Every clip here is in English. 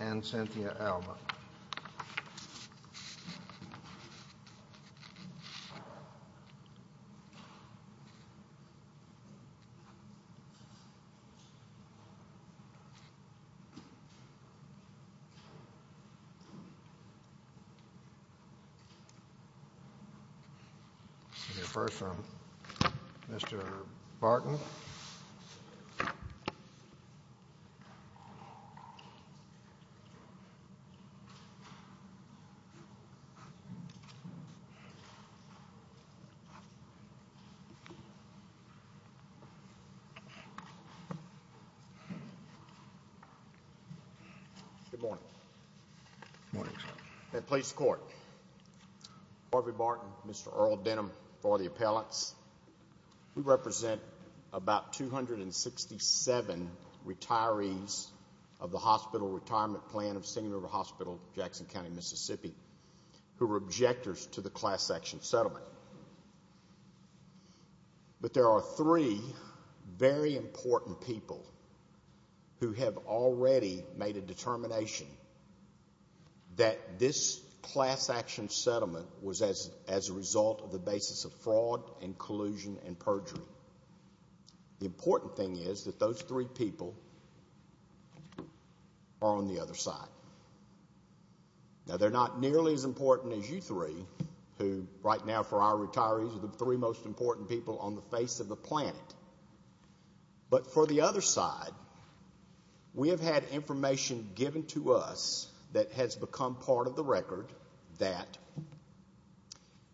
And Cynthia Allmann Mr. Barton Chairman Most court Harvey Barton Mr. Earl Denham for the appellants We represent about 267 retirees of the hospital retirement plan of St. Louis Hospital, Jackson County, Mississippi Who were objectors to the class-action settlement? But there are three very important people who have already made a determination that This class-action settlement was as as a result of the basis of fraud and collusion and perjury The important thing is that those three people Are on the other side Now they're not nearly as important as you three Who right now for our retirees are the three most important people on the face of the planet? but for the other side We have had information given to us that has become part of the record that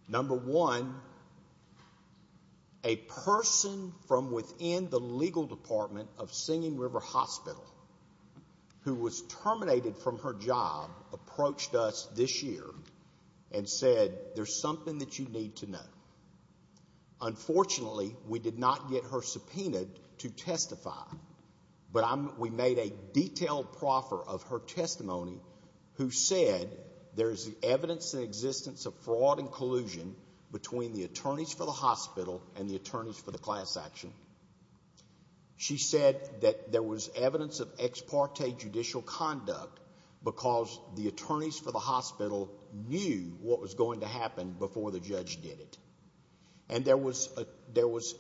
Number one a Person from within the legal department of Singing River Hospital Who was terminated from her job approached us this year and said there's something that you need to know Unfortunately, we did not get her subpoenaed to testify But I'm we made a detailed proffer of her testimony Who said there is the evidence in existence of fraud and collusion? Between the attorneys for the hospital and the attorneys for the class-action She said that there was evidence of ex parte judicial conduct because the attorneys for the hospital knew what was going to happen before the judge did it and there was a there was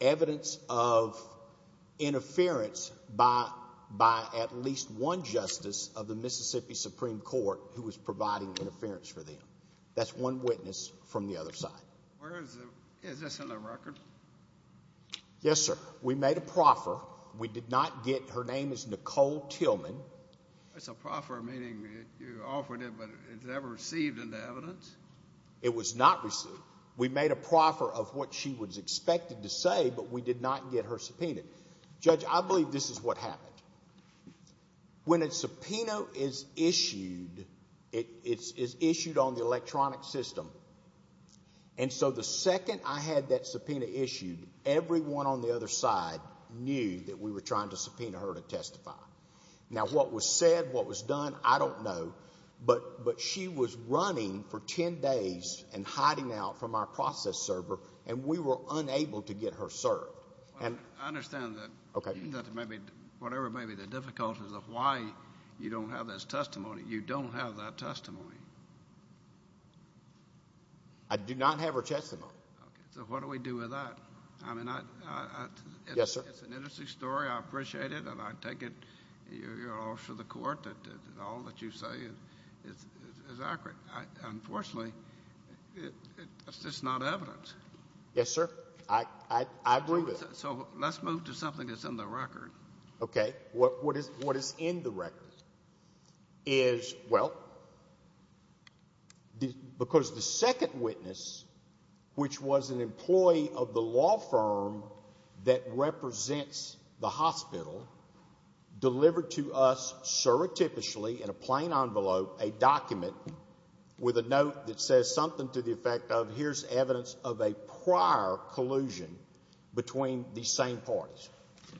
evidence of Interference by by at least one justice of the Mississippi Supreme Court who was providing interference for them That's one witness from the other side Yes, sir, we made a proffer we did not get her name is Nicole Tillman It's a proffer meaning you offered it, but it's never received in the evidence It was not received we made a proffer of what she was expected to say, but we did not get her subpoenaed judge I believe this is what happened when a subpoena is issued it is issued on the electronic system and So the second I had that subpoena issued everyone on the other side Knew that we were trying to subpoena her to testify now what was said what was done? I don't know But but she was running for 10 days and hiding out from our process server And we were unable to get her served and I understand that okay That's maybe whatever maybe the difficulties of why you don't have this testimony. You don't have that testimony. I Do not have her testimony, so what do we do with that? I mean I Yes, sir. It's an interesting story. I appreciate it, and I take it you're also the court that is accurate unfortunately It's not evidence. Yes, sir. I Agree, so let's move to something that's in the record. Okay. What what is what is in the record is? well Because the second witness Which was an employee of the law firm that represents the hospital Delivered to us surreptitiously in a plain envelope a document With a note that says something to the effect of here's evidence of a prior collusion Between these same parties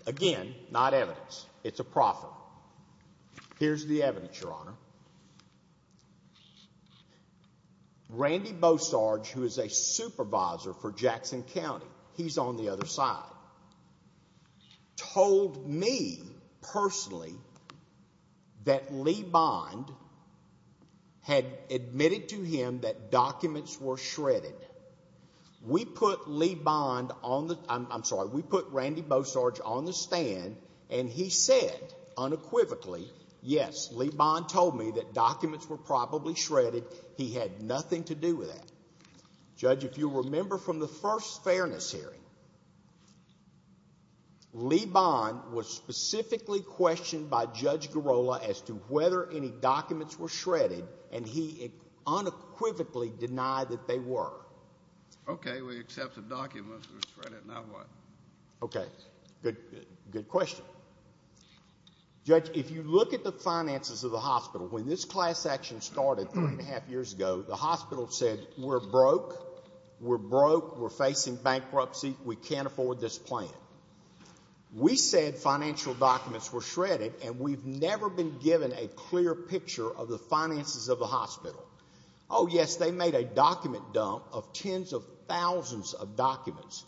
again not evidence. It's a profit Here's the evidence your honor Randy Bosarge who is a supervisor for Jackson County? He's on the other side Told me personally That Lee Bond Had admitted to him that documents were shredded We put Lee Bond on the I'm sorry we put Randy Bosarge on the stand and he said Unequivocally yes, Lee Bond told me that documents were probably shredded. He had nothing to do with that Judge if you remember from the first fairness hearing Lee Bond was specifically questioned by Judge Girola as to whether any documents were shredded and he unequivocally denied that they were Okay, we accept the documents Okay, good good question Judge if you look at the finances of the hospital when this class action started three and a half years ago the hospital said We're broke We're broke. We're facing bankruptcy. We can't afford this plan We said financial documents were shredded and we've never been given a clear picture of the finances of the hospital Oh, yes, they made a document dump of tens of thousands of documents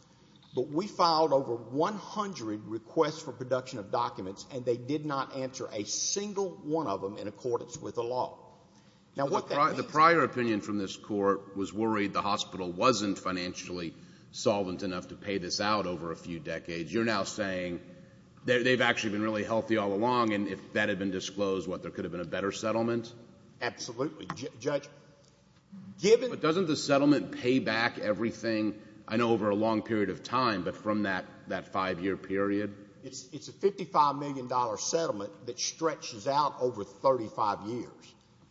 but we filed over 100 requests for production of documents and they did not answer a single one of them in accordance with the law Now what the prior opinion from this court was worried the hospital wasn't financially Solvent enough to pay this out over a few decades. You're now saying They've actually been really healthy all along and if that had been disclosed what there could have been a better settlement absolutely, judge Given it doesn't the settlement pay back everything. I know over a long period of time But from that that five-year period it's it's a fifty five million dollar settlement that stretches out over 35 years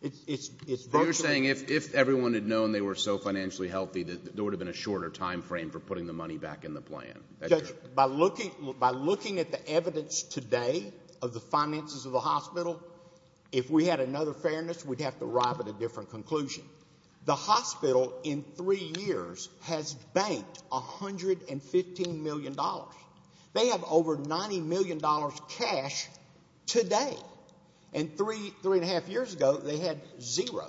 It's it's you're saying if everyone had known they were so financially healthy that there would have been a shorter time frame for putting the money back in the plan By looking by looking at the evidence today of the finances of the hospital if we had another fairness We'd have to arrive at a different conclusion The hospital in three years has banked a hundred and fifteen million dollars They have over ninety million dollars cash Today and three three and a half years ago. They had zero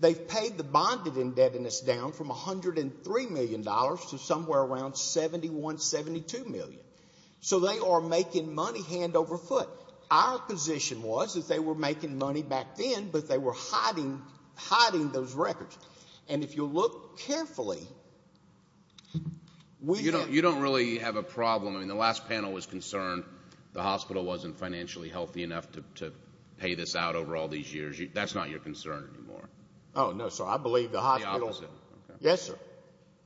They've paid the bonded indebtedness down from a hundred and three million dollars to somewhere around Seventy one seventy two million. So they are making money hand over foot Our position was that they were making money back then but they were hiding Hiding those records and if you look carefully We don't you don't really have a problem I mean the last panel was concerned the hospital wasn't financially healthy enough to pay this out over all these years That's not your concern anymore. Oh, no, sir. I believe the Yes, sir.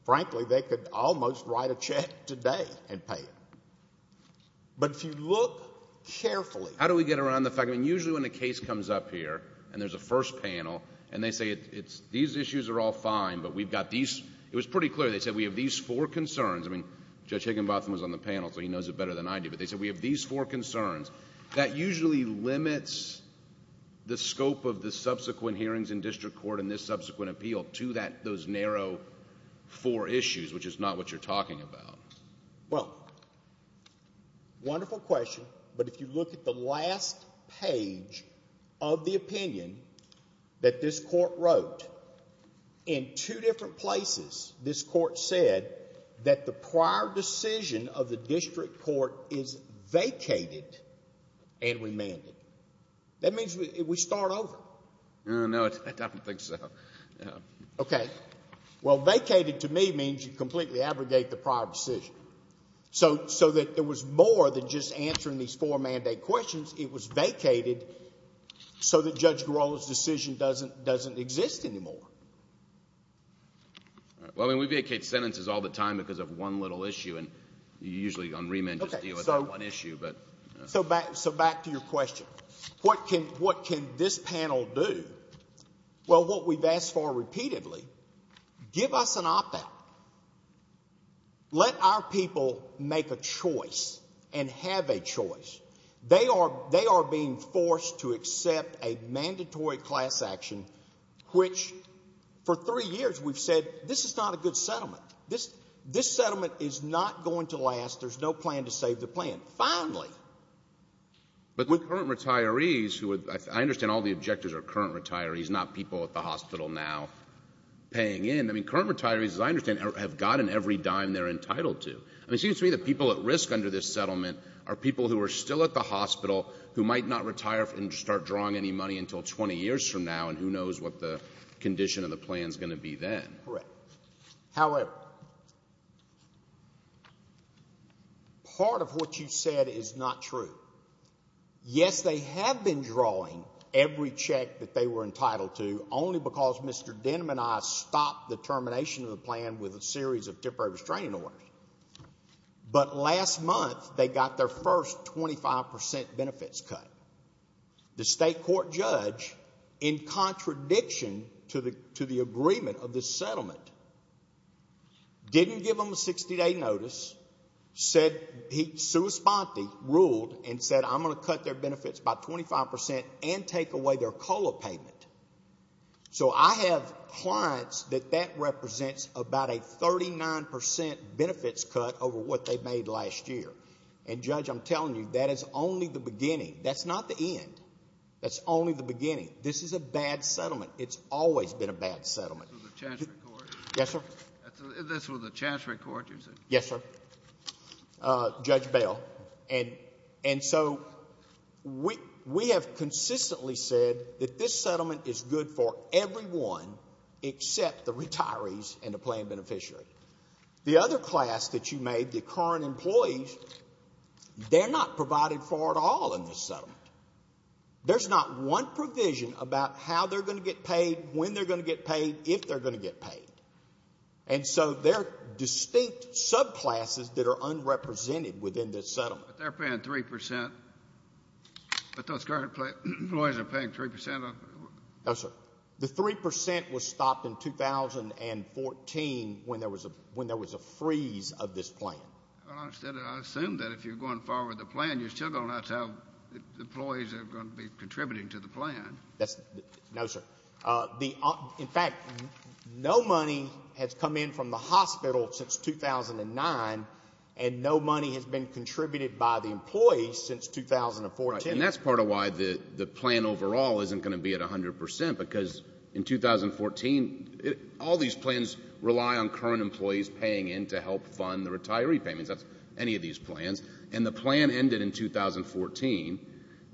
Frankly, they could almost write a check today and pay it but if you look Carefully, how do we get around the fact? I mean usually when the case comes up here and there's a first panel and they say it's these issues are all fine But we've got these it was pretty clear. They said we have these four concerns I mean judge Higginbotham was on the panel. So he knows it better than I do But they said we have these four concerns that usually limits The scope of the subsequent hearings in district court in this subsequent appeal to that those narrow Four issues, which is not what you're talking about well Wonderful question, but if you look at the last page of the opinion that this court wrote in two different places this court said that the prior decision of the district court is vacated and That means we start over Okay, well vacated to me means you completely abrogate the prior decision So so that there was more than just answering these four mandate questions. It was vacated So the judge Girola's decision doesn't doesn't exist anymore Well, I mean we vacate sentences all the time because of one little issue and you usually on remand But so back so back to your question, what can what can this panel do? Well what we've asked for repeatedly Give us an op-out Let our people make a choice and have a choice They are they are being forced to accept a mandatory class action Which for three years we've said this is not a good settlement this this settlement is not going to last There's no plan to save the plan finally But with current retirees who would I understand all the objectives are current retirees not people at the hospital now Paying in I mean current retirees as I understand have gotten every dime They're entitled to and it seems to me that people at risk under this settlement are people who are still at the hospital who might not retire and start drawing any money until 20 years from now and who knows what the Condition of the plan is going to be then correct however Part of what you said is not true Yes, they have been drawing every check that they were entitled to only because mr Denim and I stopped the termination of the plan with a series of temporary restraining orders But last month they got their first 25% benefits cut the state court judge in Contradiction to the to the agreement of this settlement Didn't give them a 60-day notice Said he sued Sponti ruled and said I'm gonna cut their benefits by 25% and take away their COLA payment So I have clients that that represents about a 39% Benefits cut over what they've made last year and judge. I'm telling you that is only the beginning. That's not the end That's only the beginning. This is a bad settlement. It's always been a bad settlement Yes, sir The chance record yes, sir Judge bail and and so We we have consistently said that this settlement is good for everyone Except the retirees and the plan beneficiary the other class that you made the current employees They're not provided for at all in this settlement There's not one provision about how they're going to get paid when they're going to get paid if they're going to get paid And so they're distinct subclasses that are unrepresented within this settlement they're paying 3% But those current employees are paying 3% No, sir. The 3% was stopped in 2014 when there was a when there was a freeze of this plan Assume that if you're going forward the plan you're still gonna tell the employees are going to be contributing to the plan That's no, sir the in fact No money has come in from the hospital since 2009 and no money has been contributed by the employees since 2014 that's part of why the the plan overall isn't going to be at a hundred percent because in 2014 it all these plans rely on current employees paying in to help fund the retiree payments That's any of these plans and the plan ended in 2014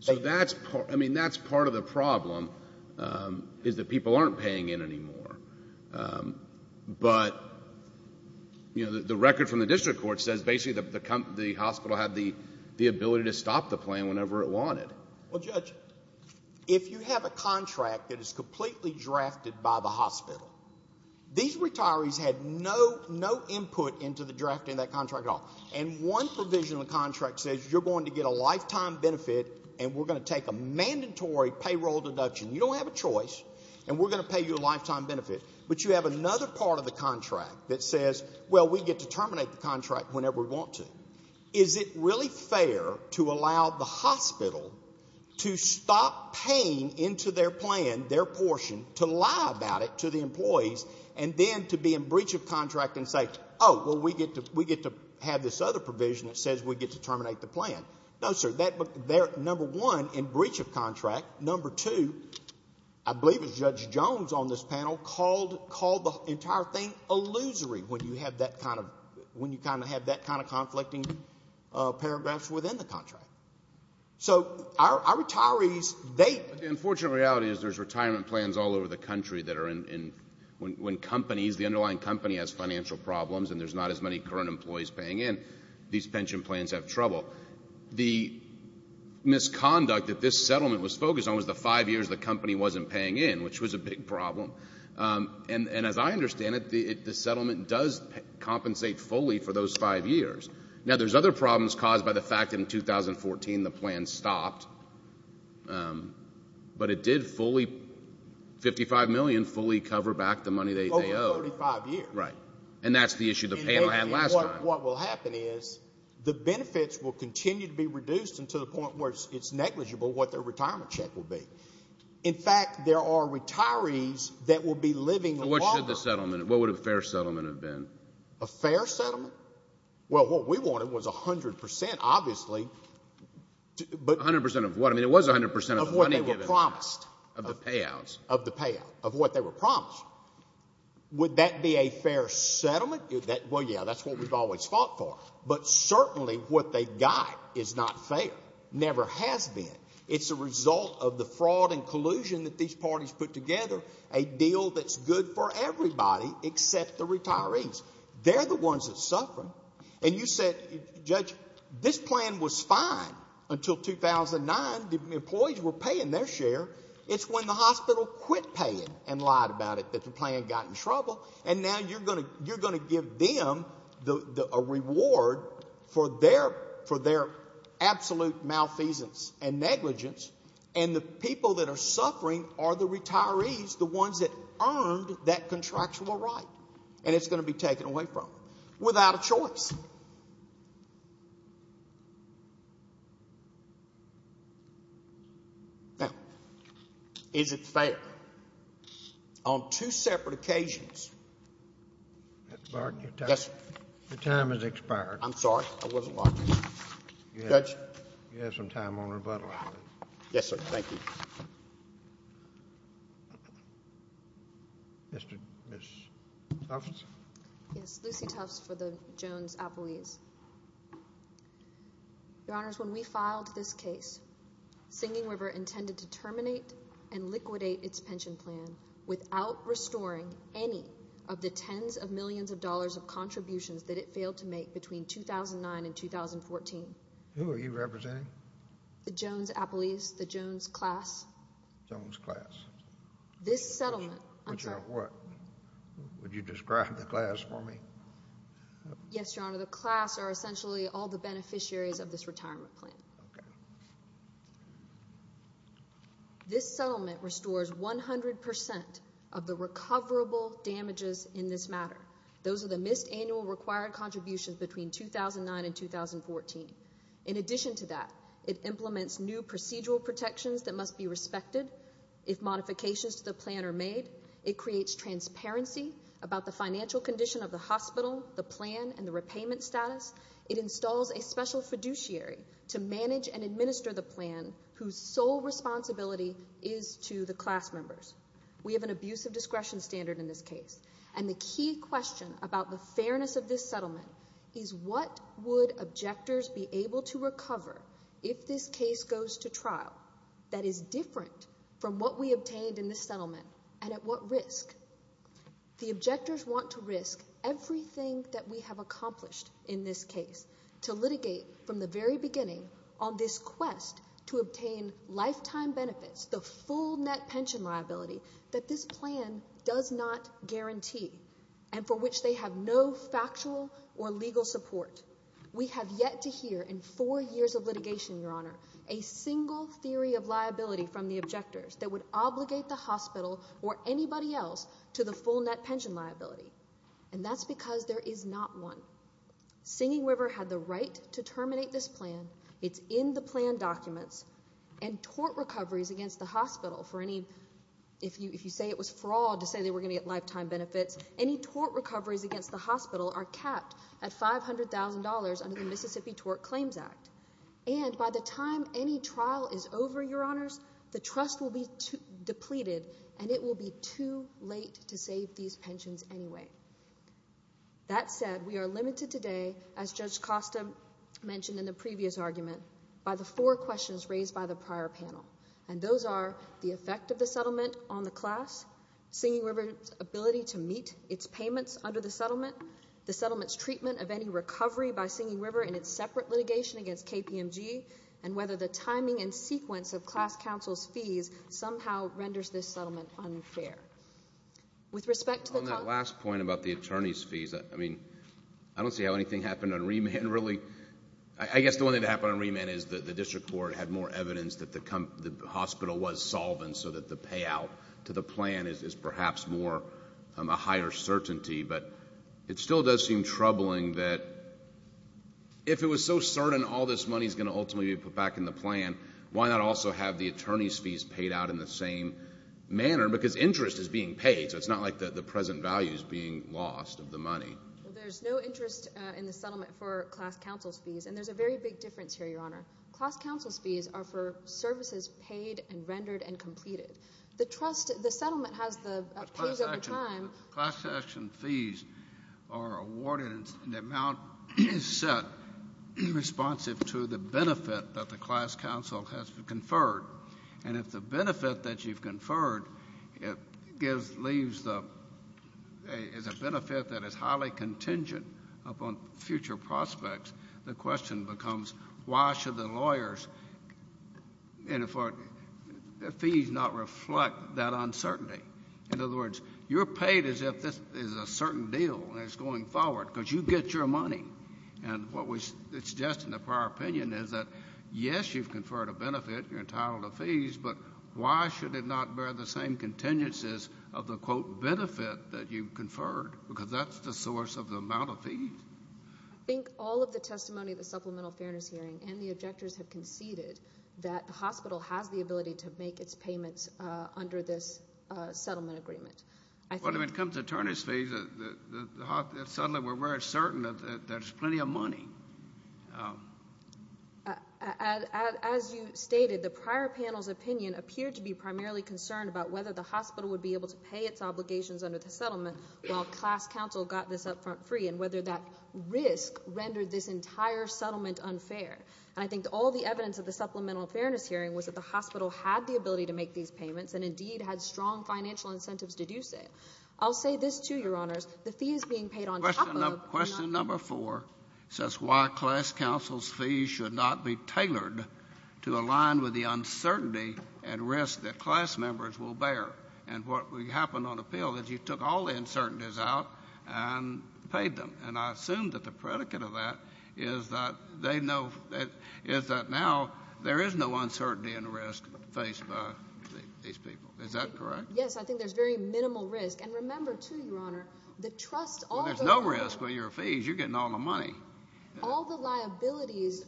so that's I mean that's part of the problem Is that people aren't paying in anymore But you know the record from the district court says basically the Hospital had the the ability to stop the plan whenever it wanted If you have a contract that is completely drafted by the hospital These retirees had no no input into the drafting that contract off and one Provision the contract says you're going to get a lifetime benefit and we're going to take a mandatory payroll deduction You don't have a choice and we're going to pay you a lifetime benefit But you have another part of the contract that says well we get to terminate the contract whenever we want to is It really fair to allow the hospital to stop paying into their plan their portion to lie about it to the employees and Then to be in breach of contract and say oh well We get to we get to have this other provision that says we get to terminate the plan No, sir They're number one in breach of contract number two I believe it's judge Jones on this panel called called the entire thing Illusory when you have that kind of when you kind of have that kind of conflicting paragraphs within the contract So our retirees they unfortunate reality is there's retirement plans all over the country that are in When companies the underlying company has financial problems, and there's not as many current employees paying in these pension plans have trouble the Misconduct that this settlement was focused on was the five years the company wasn't paying in which was a big problem And and as I understand it the the settlement does compensate fully for those five years now There's other problems caused by the fact in 2014 the plan stopped But it did fully 55 million fully cover back the money they owe Right and that's the issue the panel had last what will happen is The benefits will continue to be reduced into the point where it's negligible what their retirement check will be in fact There are retirees that will be living what should the settlement? What would a fair settlement have been a fair settlement? Well what we wanted was a hundred percent obviously But 100% of what I mean it was 100% of what they were promised of the payouts of the payout of what they were promised Would that be a fair settlement that well? Yeah, that's what we've always fought for but certainly what they got is not fair never has been It's a result of the fraud and collusion that these parties put together a deal. That's good for everybody except the retirees They're the ones that suffer and you said judge this plan was fine until 2009 the employees were paying their share It's when the hospital quit paying and lied about it that the plan got in trouble and now you're gonna You're going to give them the reward for their for their absolute malfeasance and negligence and the people that are suffering are the retirees the ones that Earned that contractual right and it's going to be taken away from without a choice Now is it fair on two separate occasions Yes, your time is expired, I'm sorry When we filed this case Singing River intended to terminate and liquidate its pension plan without Restoring any of the tens of millions of dollars of contributions that it failed to make between 2009 and 2014 Who are you representing? the Jones Apple East the Jones class Jones class This settlement. I'm sure what? Would you describe the class for me? Yes, your honor. The class are essentially all the beneficiaries of this retirement plan This Settlement restores 100% of the recoverable damages in this matter Those are the missed annual required contributions between 2009 and 2014 in addition to that it Implements new procedural protections that must be respected if modifications to the plan are made it creates Transparency about the financial condition of the hospital the plan and the repayment status it installs a special fiduciary To manage and administer the plan whose sole responsibility is to the class members We have an abuse of discretion standard in this case And the key question about the fairness of this settlement is what would objectors be able to recover? If this case goes to trial that is different from what we obtained in this settlement and at what risk The objectors want to risk Everything that we have accomplished in this case to litigate from the very beginning on this quest to obtain Lifetime benefits the full net pension liability that this plan does not guarantee And for which they have no factual or legal support we have yet to hear in four years of litigation your honor a To the full net pension liability and that's because there is not one Singing River had the right to terminate this plan. It's in the plan documents and Tort recoveries against the hospital for any if you if you say it was fraud to say they were gonna get lifetime benefits any Tort recoveries against the hospital are capped at five hundred thousand dollars under the Mississippi tort claims act And by the time any trial is over your honors the trust will be Depleted and it will be too late to save these pensions anyway That said we are limited today as judge Costa Mentioned in the previous argument by the four questions raised by the prior panel and those are the effect of the settlement on the class singing river's ability to meet its payments under the settlement the settlements treatment of any recovery by singing river in its separate litigation against KPMG and whether the timing and sequence of class counsel's fees somehow renders this settlement unfair With respect to the last point about the attorney's fees. I mean, I don't see how anything happened on remand really I guess the one thing to happen on remand is that the district court had more evidence that the Hospital was solvent so that the payout to the plan is perhaps more a higher certainty but it still does seem troubling that If it was so certain all this money is going to ultimately be put back in the plan Why not also have the attorney's fees paid out in the same? Manner because interest is being paid. So it's not like the the present value is being lost of the money There's no interest in the settlement for class counsel's fees and there's a very big difference here Your honor class counsel's fees are for services paid and rendered and completed the trust the settlement has the Set Responsive to the benefit that the class counsel has conferred and if the benefit that you've conferred it gives leaves the Is a benefit that is highly contingent upon future prospects. The question becomes why should the lawyers? and if Fees not reflect that uncertainty In other words, you're paid as if this is a certain deal and it's going forward because you get your money And what we it's just in the prior opinion is that yes, you've conferred a benefit you're entitled to fees But why should it not bear the same contingencies of the quote benefit that you conferred because that's the source of the amount of fees Think all of the testimony the supplemental fairness hearing and the objectors have conceded that the hospital has the ability to make its payments under this settlement agreement When it comes to attorneys fees Suddenly, we're very certain that there's plenty of money As you stated the prior panel's opinion appeared to be primarily concerned about whether the hospital would be able to pay its Obligations under the settlement while class counsel got this up front free and whether that risk rendered this entire settlement unfair And I think all the evidence of the supplemental fairness hearing was that the hospital had the ability to make these payments and indeed had Strong financial incentives deduce it. I'll say this to your honors. The fee is being paid on question number four Says why class counsel's fees should not be tailored to align with the uncertainty and risk that class members will bear and what we happen on appeal that you took all the uncertainties out and Paid them and I assume that the predicate of that is that they know that is that now there is no uncertainty and risk Faced by these people. Is that correct? Yes, I think there's very minimal risk and remember to your honor the trust Oh, there's no risk with your fees. You're getting all the money All the liabilities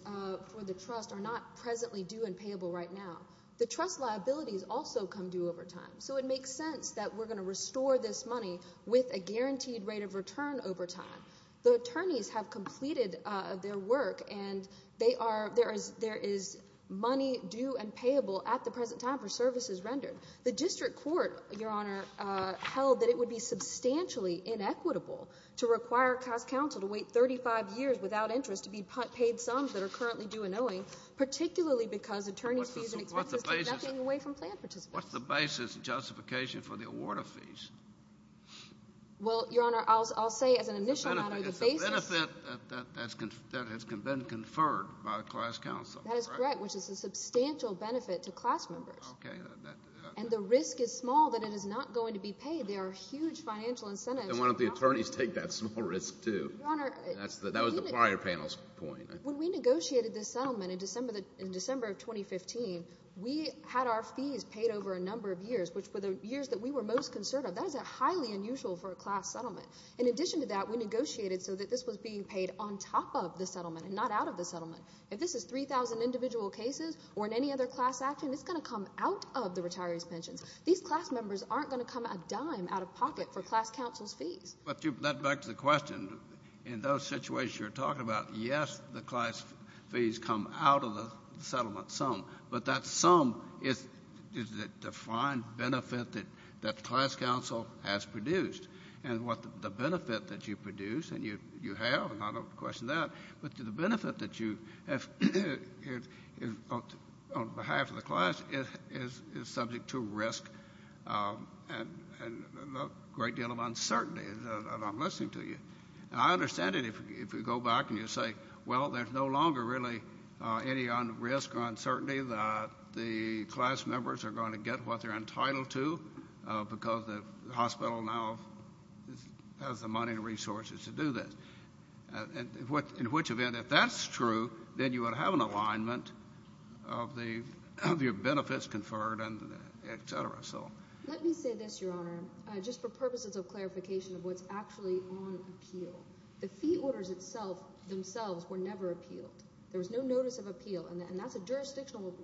for the trust are not presently due and payable right now The trust liabilities also come due over time So it makes sense that we're going to restore this money with a guaranteed rate of return over time the attorneys have completed their work and they are there is there is Money due and payable at the present time for services rendered the district court your honor Held that it would be substantially Inequitable to require cost counsel to wait 35 years without interest to be put paid sums that are currently due and owing Particularly because attorneys What's the basis justification for the award of fees Well, your honor I'll say as an initial That has been conferred by the class council, that's right, which is a substantial benefit to class members And the risk is small that it is not going to be paid. There are huge financial incentives And why don't the attorneys take that small risk to that was the prior panel's point when we negotiated this settlement in December? That in December of 2015 We had our fees paid over a number of years which were the years that we were most concerned of that is a highly unusual for a class settlement in addition to that we Negotiated so that this was being paid on top of the settlement and not out of the settlement if this is 3,000 individual cases Or in any other class action, it's going to come out of the retirees pensions These class members aren't going to come a dime out of pocket for class councils fees But you've led back to the question in those situations you're talking about Yes, the class fees come out of the settlement some but that sum is Defined benefit that that class council has produced and what the benefit that you produce and you you have I don't question that but to the benefit that you have On behalf of the class it is is subject to risk and Great deal of uncertainty that I'm listening to you I understand it if you go back and you say well There's no longer really any on risk or uncertainty that the class members are going to get what they're entitled to because the hospital now Has the money and resources to do this? What in which event if that's true, then you would have an alignment of the of your benefits conferred and etc So let me say this your honor just for purposes of clarification of what's actually on appeal the fee orders itself Themselves were never appealed. There was no notice of appeal and that's a jurisdictional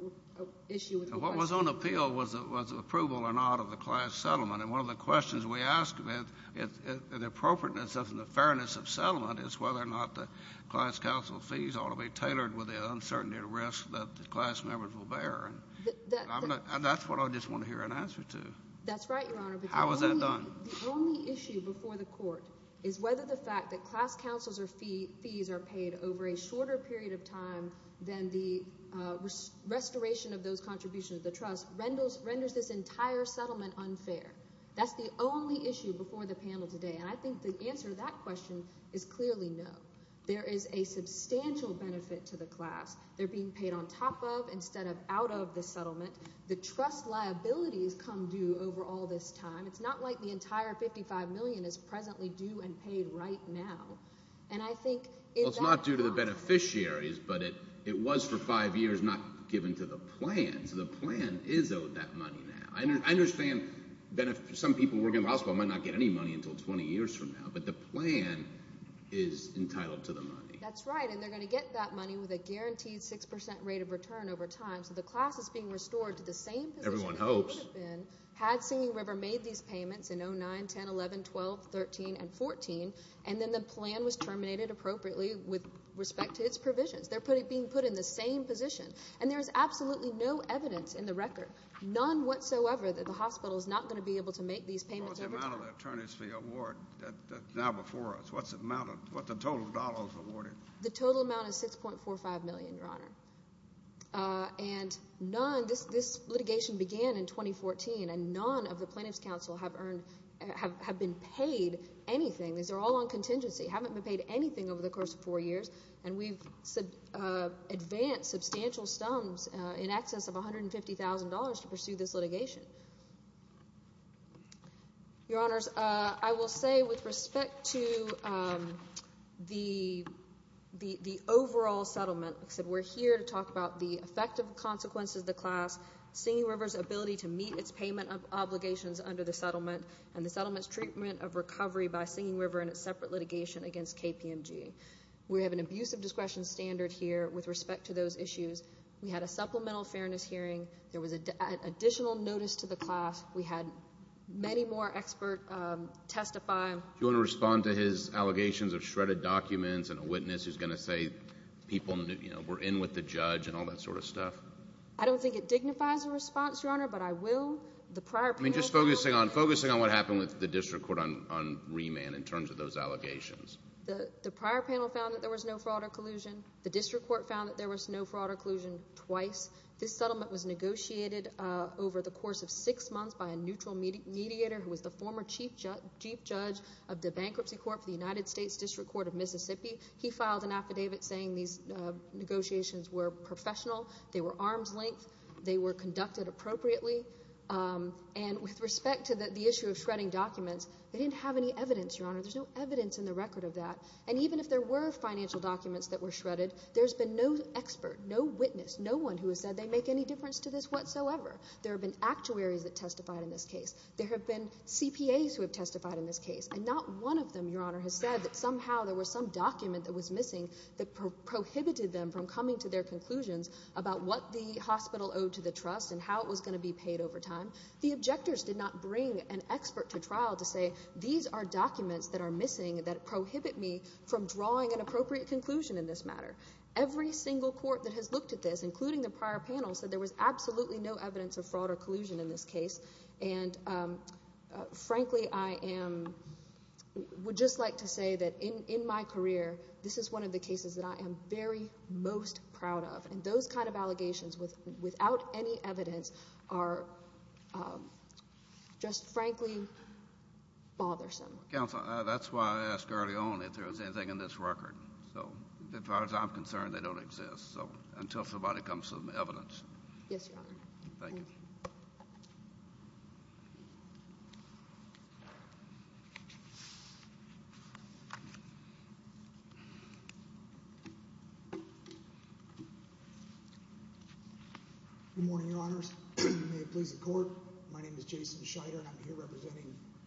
Issue what was on appeal was it was approval or not of the class settlement and one of the questions we asked of it if the appropriateness of in the fairness of settlement is whether or not the class council fees ought to be tailored with the uncertainty of risk that the class members will bear and That's what I just want to hear an answer to that's right How is that done the only issue before the court is whether the fact that class councils or fee fees are paid over a shorter period of time than the Restoration of those contributions the trust renders renders this entire settlement unfair That's the only issue before the panel today. And I think the answer to that question is clearly no There is a substantial benefit to the class They're being paid on top of instead of out of the settlement the trust liabilities come due over all this time It's not like the entire 55 million is presently due and paid right now And I think it's not due to the beneficiaries But it it was for five years not given to the plan. So the plan is owed that money now I understand that if some people working possible might not get any money until 20 years from now, but the plan is Guaranteed 6% rate of return over time so the class is being restored to the same everyone hopes and Had singing river made these payments in 0 9 10 11 12 13 and 14 and then the plan was terminated appropriately with Respect to its provisions. They're putting being put in the same position and there is absolutely no evidence in the record None whatsoever that the hospital is not going to be able to make these payments Award Now before us what's it mounted what the total dollars awarded the total amount of six point four five million your honor and none this this litigation began in 2014 and none of the plaintiffs counsel have earned have been paid Anything these are all on contingency haven't been paid anything over the course of four years and we've said Advanced substantial stumps in excess of a hundred and fifty thousand dollars to pursue this litigation Your honors, I will say with respect to the The the overall settlement said we're here to talk about the effective consequences of the class singing rivers ability to meet its payment of Obligations under the settlement and the settlements treatment of recovery by singing river and its separate litigation against KPMG We have an abuse of discretion standard here with respect to those issues. We had a supplemental fairness hearing There was a additional notice to the class We had many more expert testify you want to respond to his allegations of shredded documents and a witness who's going to say? People knew you know, we're in with the judge and all that sort of stuff I don't think it dignifies a response your honor But I will the prior I mean just focusing on focusing on what happened with the district court on Remand in terms of those allegations the the prior panel found that there was no fraud or collusion The district court found that there was no fraud or collusion twice This settlement was negotiated over the course of six months by a neutral mediator Who was the former chief judge chief judge of the Bankruptcy Court for the United States District Court of Mississippi? He filed an affidavit saying these Negotiations were professional. They were arm's length. They were conducted appropriately And with respect to the issue of shredding documents, they didn't have any evidence your honor There's no evidence in the record of that and even if there were financial documents that were shredded There's been no expert. No witness. No one who has said they make any difference to this whatsoever There have been actuaries that testified in this case There have been CPAs who have testified in this case and not one of them your honor has said that somehow there was some document that was missing that Prohibited them from coming to their conclusions about what the hospital owed to the trust and how it was going to be paid over time The objectors did not bring an expert to trial to say these are documents that are missing that prohibit me from drawing an appropriate conclusion in this matter every single court that has looked at this including the prior panel said there was absolutely no evidence of fraud or collusion in this case and Frankly I am Would just like to say that in in my career This is one of the cases that I am very most proud of and those kind of allegations with without any evidence are Just frankly Bothersome council, that's why I asked early on if there was anything in this record So as far as I'm concerned, they don't exist. So until somebody comes to the evidence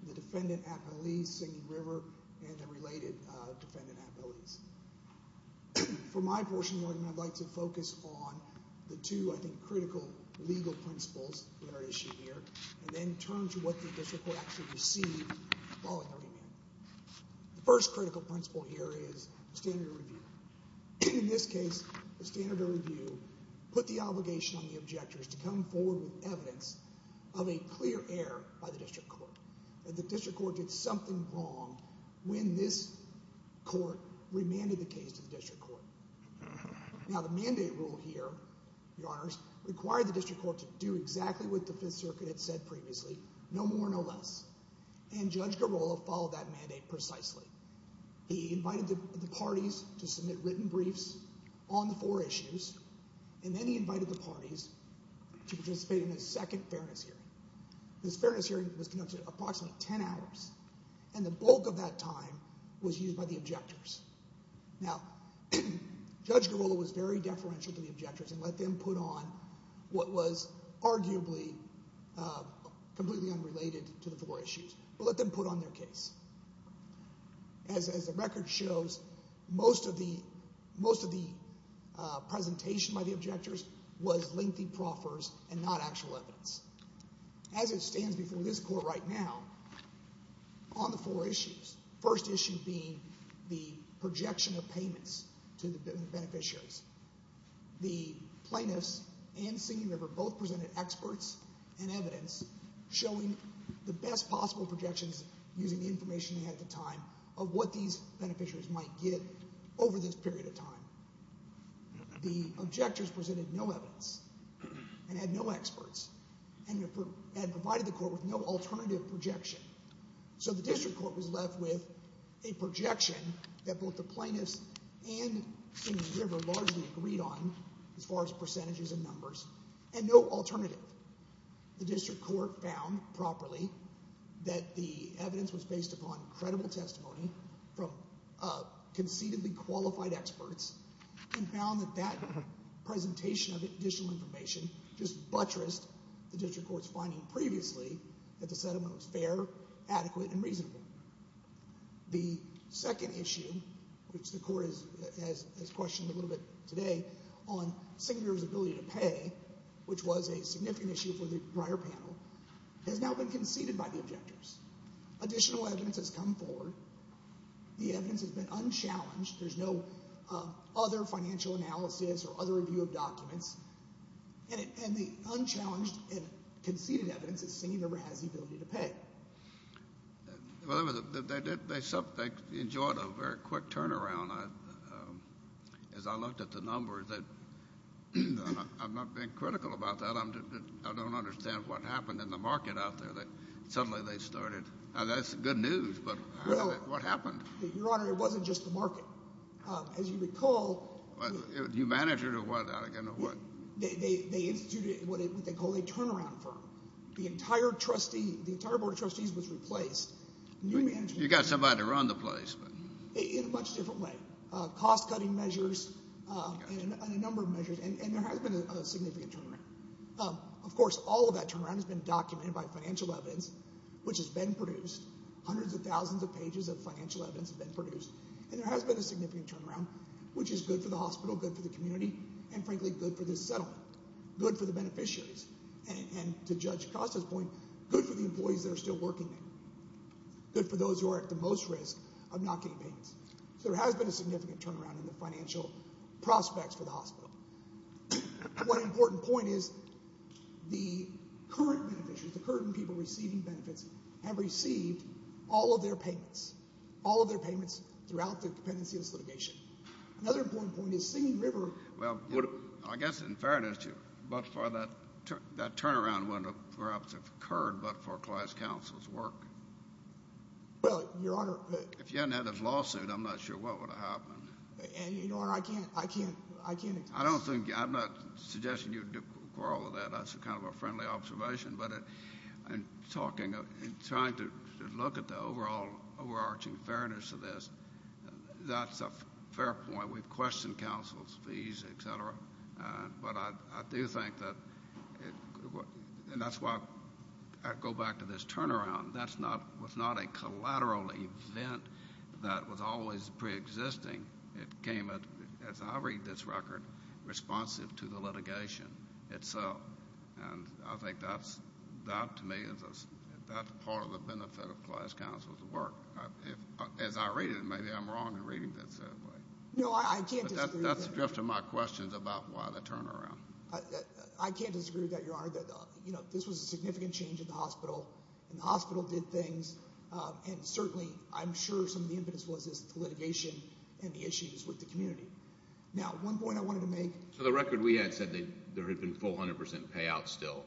The defendant at Belize Singing River and the related defendant at Belize For my portion of the argument, I'd like to focus on the two I think critical legal principles that are at issue here and then turn to what the district court actually received following the argument. The first critical principle here is the standard of review. In this case, the standard of review put the obligation on the objectors to come forward with evidence of a clear error by the district court. The district court did something wrong when this court remanded the case to the district court. Now the mandate rule here, your honors, required the district court to do exactly what the Fifth Circuit had said previously. No more, no less. And Judge Girola followed that mandate precisely. He invited the parties to submit written briefs on the four issues and then he invited the parties to participate in his second fairness hearing. This fairness hearing was conducted approximately 10 hours and the bulk of that time was used by the objectors. Now, Judge Girola was very deferential to the objectors and let them put on what was arguably completely unrelated to the four issues, but let them put on their case. As the record shows, most of the presentation by the objectors was lengthy proffers and not actual evidence. As it stands before this court right now, on the four issues, first issue being the projection of payments to the beneficiaries, the plaintiffs and Singing River both presented experts and evidence showing the best possible projections using the information they had at the time of what these beneficiaries might get over this period of time. The objectors presented no evidence and had no experts and had provided the court with no alternative projection. So the district court was left with a projection that both the plaintiffs and Singing River largely agreed on as far as percentages and numbers and no alternative. The district court found properly that the evidence was based upon credible testimony from concededly qualified experts and found that that presentation of additional information just buttressed the district court's finding previously that the settlement was fair, adequate, and reasonable. The second issue, which the court has questioned a little bit today on Singing River's ability to pay, which was a significant issue for the prior panel, has now been conceded by the objectors. Additional evidence has come forward. The evidence has been unchallenged. There's no other financial analysis or other review of documents. And the unchallenged and conceded evidence that Singing River has the ability to pay. Well, they enjoyed a very quick turnaround as I looked at the numbers. I'm not being critical about that. I don't understand what happened in the market out there that suddenly they started. That's good news, but what happened? Your Honor, it wasn't just the market. As you recall. You managed it or what? They instituted what they call a turnaround firm. The entire trustee, the entire Board of Trustees was replaced. You got somebody to run the place. In a much different way. Cost-cutting measures Of course all of that turnaround has been documented by financial evidence, which has been produced. Hundreds of thousands of pages of financial evidence have been produced and there has been a significant turnaround, which is good for the hospital, good for the community, and frankly good for this settlement. Good for the beneficiaries. And to Judge Costa's point, good for the employees that are still working there. Good for those who are at the most risk of not getting payments. So there has been a significant turnaround in the financial prospects for the hospital. One important point is the current beneficiaries, the current people receiving benefits, have received all of their payments. All of their payments throughout the dependency of this litigation. Another important point is Singing River. Well, I guess in fairness to you, but for that that turnaround window perhaps occurred but for class counsel's work. Well, Your Honor. If you hadn't had this lawsuit, I'm not sure what would have happened. And Your Honor, I can't, I can't, I can't. I don't think, I'm not suggesting you'd quarrel with that. That's a kind of a friendly observation, but in talking, in trying to look at the overall overarching fairness of this, that's a fair point. We've questioned counsel's fees, etc. But I do think that and that's why I go back to this turnaround. That's not, was not a collateral event that was always pre-existing. It came at, as I read this record, responsive to the litigation itself. And I think that's, that to me is, that's part of the benefit of class counsel's work. As I read it, maybe I'm wrong in reading this that way. No, I can't disagree. But that's the drift of my questions about why the turnaround. I can't disagree with that, Your Honor. You know, this was a significant change in the hospital and the hospital did things and certainly, I'm sure some of the impetus was the litigation and the issues with the community. Now, one point I wanted to make. So the record we had said that there had been full 100% payout still.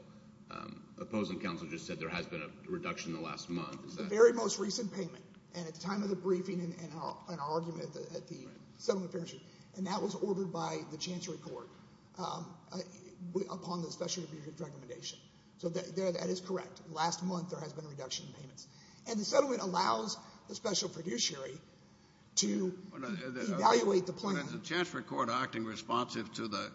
Opposing counsel just said there has been a reduction in the last month. It's the very most recent payment and at the time of the briefing and our argument at the settlement fairs. And that was ordered by the Chancery Court upon the special review recommendation. So that is correct. Last month there has been a reduction in payments. And the settlement allows the special producer to evaluate the plan. Is the Chancery Court acting responsive to the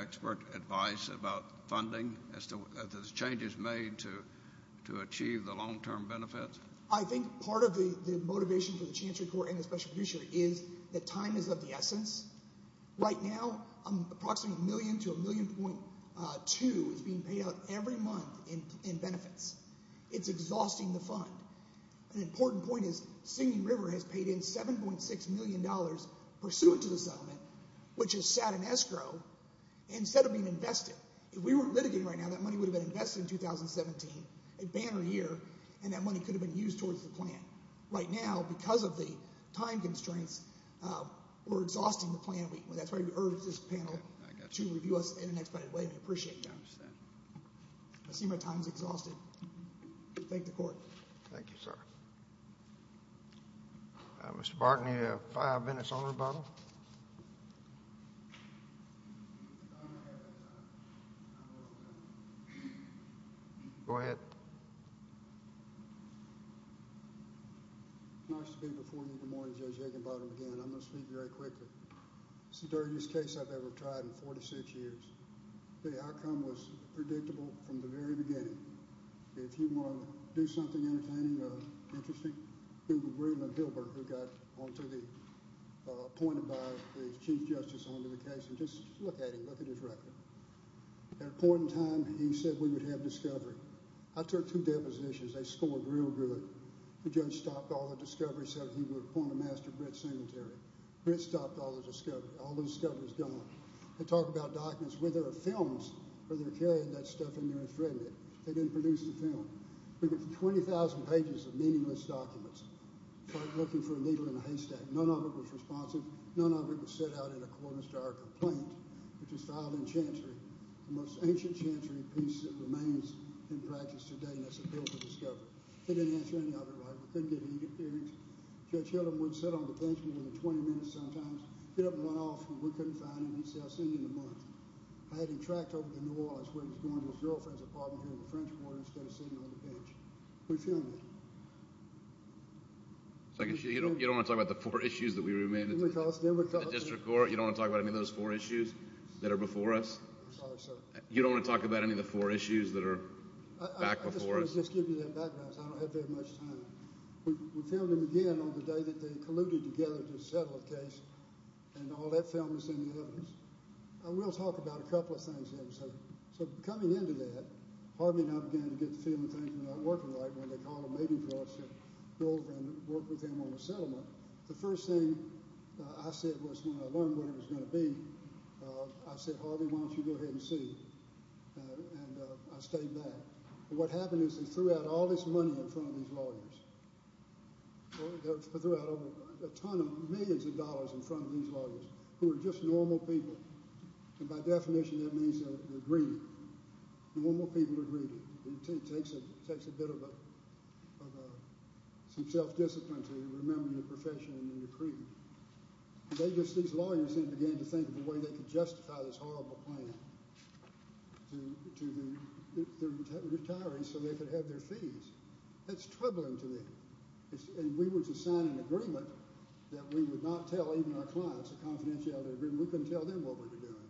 expert advice about funding, as to the changes made to achieve the long-term benefits? I think part of the motivation for the Chancery Court and the special producer is that time is of the essence. Right now, approximately a million to a million point two is being paid out every month in benefits. It's exhausting the fund. An important point is Singing River has paid in 7.6 million dollars pursuant to the settlement, which is sat in escrow instead of being invested. If we weren't litigating right now, that money would have been invested in 2017, a banner year, and that money could have been used towards the plan. Right now, because of the time constraints, we're exhausting the plan. That's why we urge this panel to review us in an expedited way. I appreciate that. I see my time is exhausted. Thank you, Court. Thank you, sir. Mr. Barton, you have five minutes on rebuttal. Go ahead. It's nice to be before you in the morning, Judge Higginbottom, again. I'm going to speak very quickly. It's the dirtiest case I've ever tried in 46 years. The outcome was predictable from the very beginning. If you want to do something entertaining or interesting, Google Breedland Hilbert, who got appointed by the Chief Justice on to the case, and just look at him, look at his record. At a point in time, he said we would have discovery. I took two depositions. They scored real good. The judge stopped all the discovery, said he would appoint a master bret sanitary. Brett stopped all the discovery. All the discovery is gone. They talk about documents, whether they're films or they're carrying that stuff in their infirmary. They didn't produce the film. We went through 20,000 pages of meaningless documents, looking for a needle in a haystack. None of it was responsive. None of it was set out in accordance to our complaint, which was filed in Chancery, the most ancient Chancery piece that remains in practice today, and that's a bill for discovery. They didn't answer any of it right. We couldn't get any hearings. Judge Higginbottom wouldn't sit on the bench more than 20 minutes sometimes. He'd get up and run off, and we couldn't find him. He'd say, I'll see you in a month. I had him tracked over to New Orleans where he was going to his girlfriend's apartment here in the French Quarter instead of sitting on the bench. We filmed it. So you don't want to talk about the four issues that we remanded to the district court? You don't want to talk about any of those four issues that are before us? Sorry, sir. You don't want to talk about any of the four issues that are back before us? I just want to give you that background because I don't have very much time. We filmed him again on the day that they colluded together to settle the case, and all that film is in the evidence. We'll talk about a couple of things here. So coming into that, Harvey and I began to get the feeling things were not working right when they called a meeting for us to go over and work with him on the settlement. The first thing I said was when I learned what it was going to be, I said, Harvey, why don't you go ahead and see? And I stayed back. What happened is they threw out all this money in front of these lawyers. They threw out a ton of millions of dollars in front of these lawyers who are just normal people, and by definition that means they're greedy. Normal people are greedy. It takes a bit of some self-discipline to remember your profession and your creed. These lawyers then began to think of a way they could justify this horrible plan to the retirees so they could have their fees. That's troubling to me. And we were to sign an agreement that we would not tell even our clients, a confidentiality agreement. We couldn't tell them what we were doing.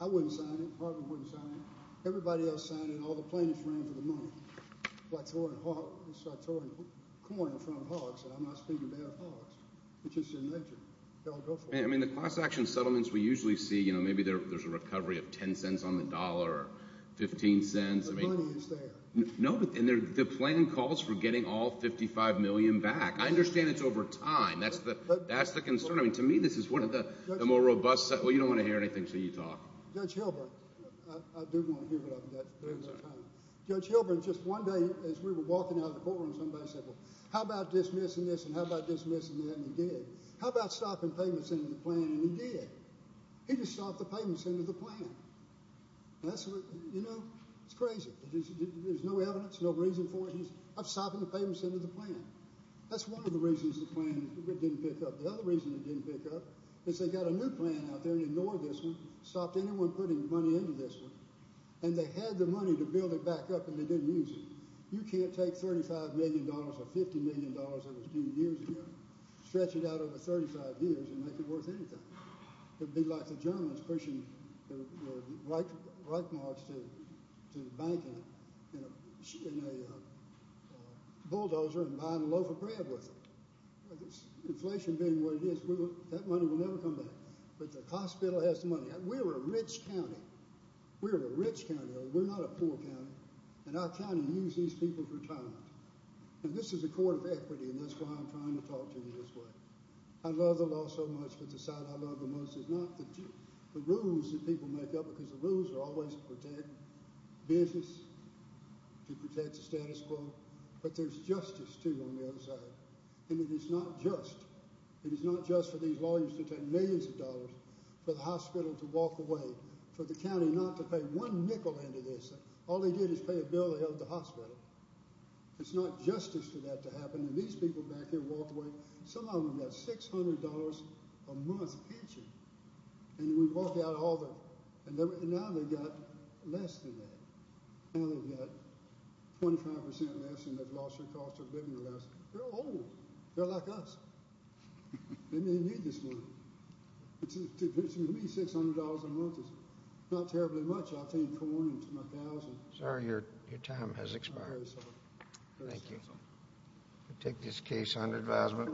I wouldn't sign it. Harvey wouldn't sign it. Everybody else signed it. All the plaintiffs ran for the money. So I tore a coin in front of Hawks, and I'm not speaking bad of Hawks. It's just in nature. They'll go for it. I mean the cross-action settlements we usually see, maybe there's a recovery of $0.10 on the dollar or $0.15. The money is there. The plan calls for getting all $55 million back. I understand it's over time. That's the concern. To me, this is one of the more robust settlements. Well, you don't want to hear anything until you talk. Judge Hilburn. I do want to hear what I've got. Judge Hilburn, just one day as we were walking out of the courtroom, somebody said, well, how about dismissing this and how about dismissing that? And he did. How about stopping payments into the plan? And he did. He just stopped the payments into the plan. You know, it's crazy. There's no evidence, no reason for it. I'm stopping the payments into the plan. That's one of the reasons the plan didn't pick up. The other reason it didn't pick up is they got a new plan out there and ignored this one, stopped anyone putting money into this one, and they had the money to build it back up and they didn't use it. You can't take $35 million or $50 million that was due years ago, stretch it out over 35 years, and make it worth anything. It would be like the Germans pushing Reich marks to the bank in a bulldozer and buying a loaf of bread with them. Inflation being what it is, that money will never come back. But the hospital has the money. We're a rich county. We're a rich county. We're not a poor county. And our county used these people for time. And this is a court of equity, and that's why I'm trying to talk to you this way. I love the law so much, but the side I love the most is not the rules that people make up because the rules are always to protect business, to protect the status quo. But there's justice, too, on the other side. And it is not just. It is not just for these lawyers to take millions of dollars for the hospital to walk away, for the county not to pay one nickel into this. All they did is pay a bill to help the hospital. It's not justice for that to happen. And these people back here walked away. Some of them got $600 a month pension. And we walked out all of them. And now they've got less than that. Now they've got 25% less, and they've lost their cost of living less. They're old. They're like us. They may need this money. To me, $600 a month is not terribly much. I feed corn to my cows. Sir, your time has expired. Thank you. I take this case under advisement.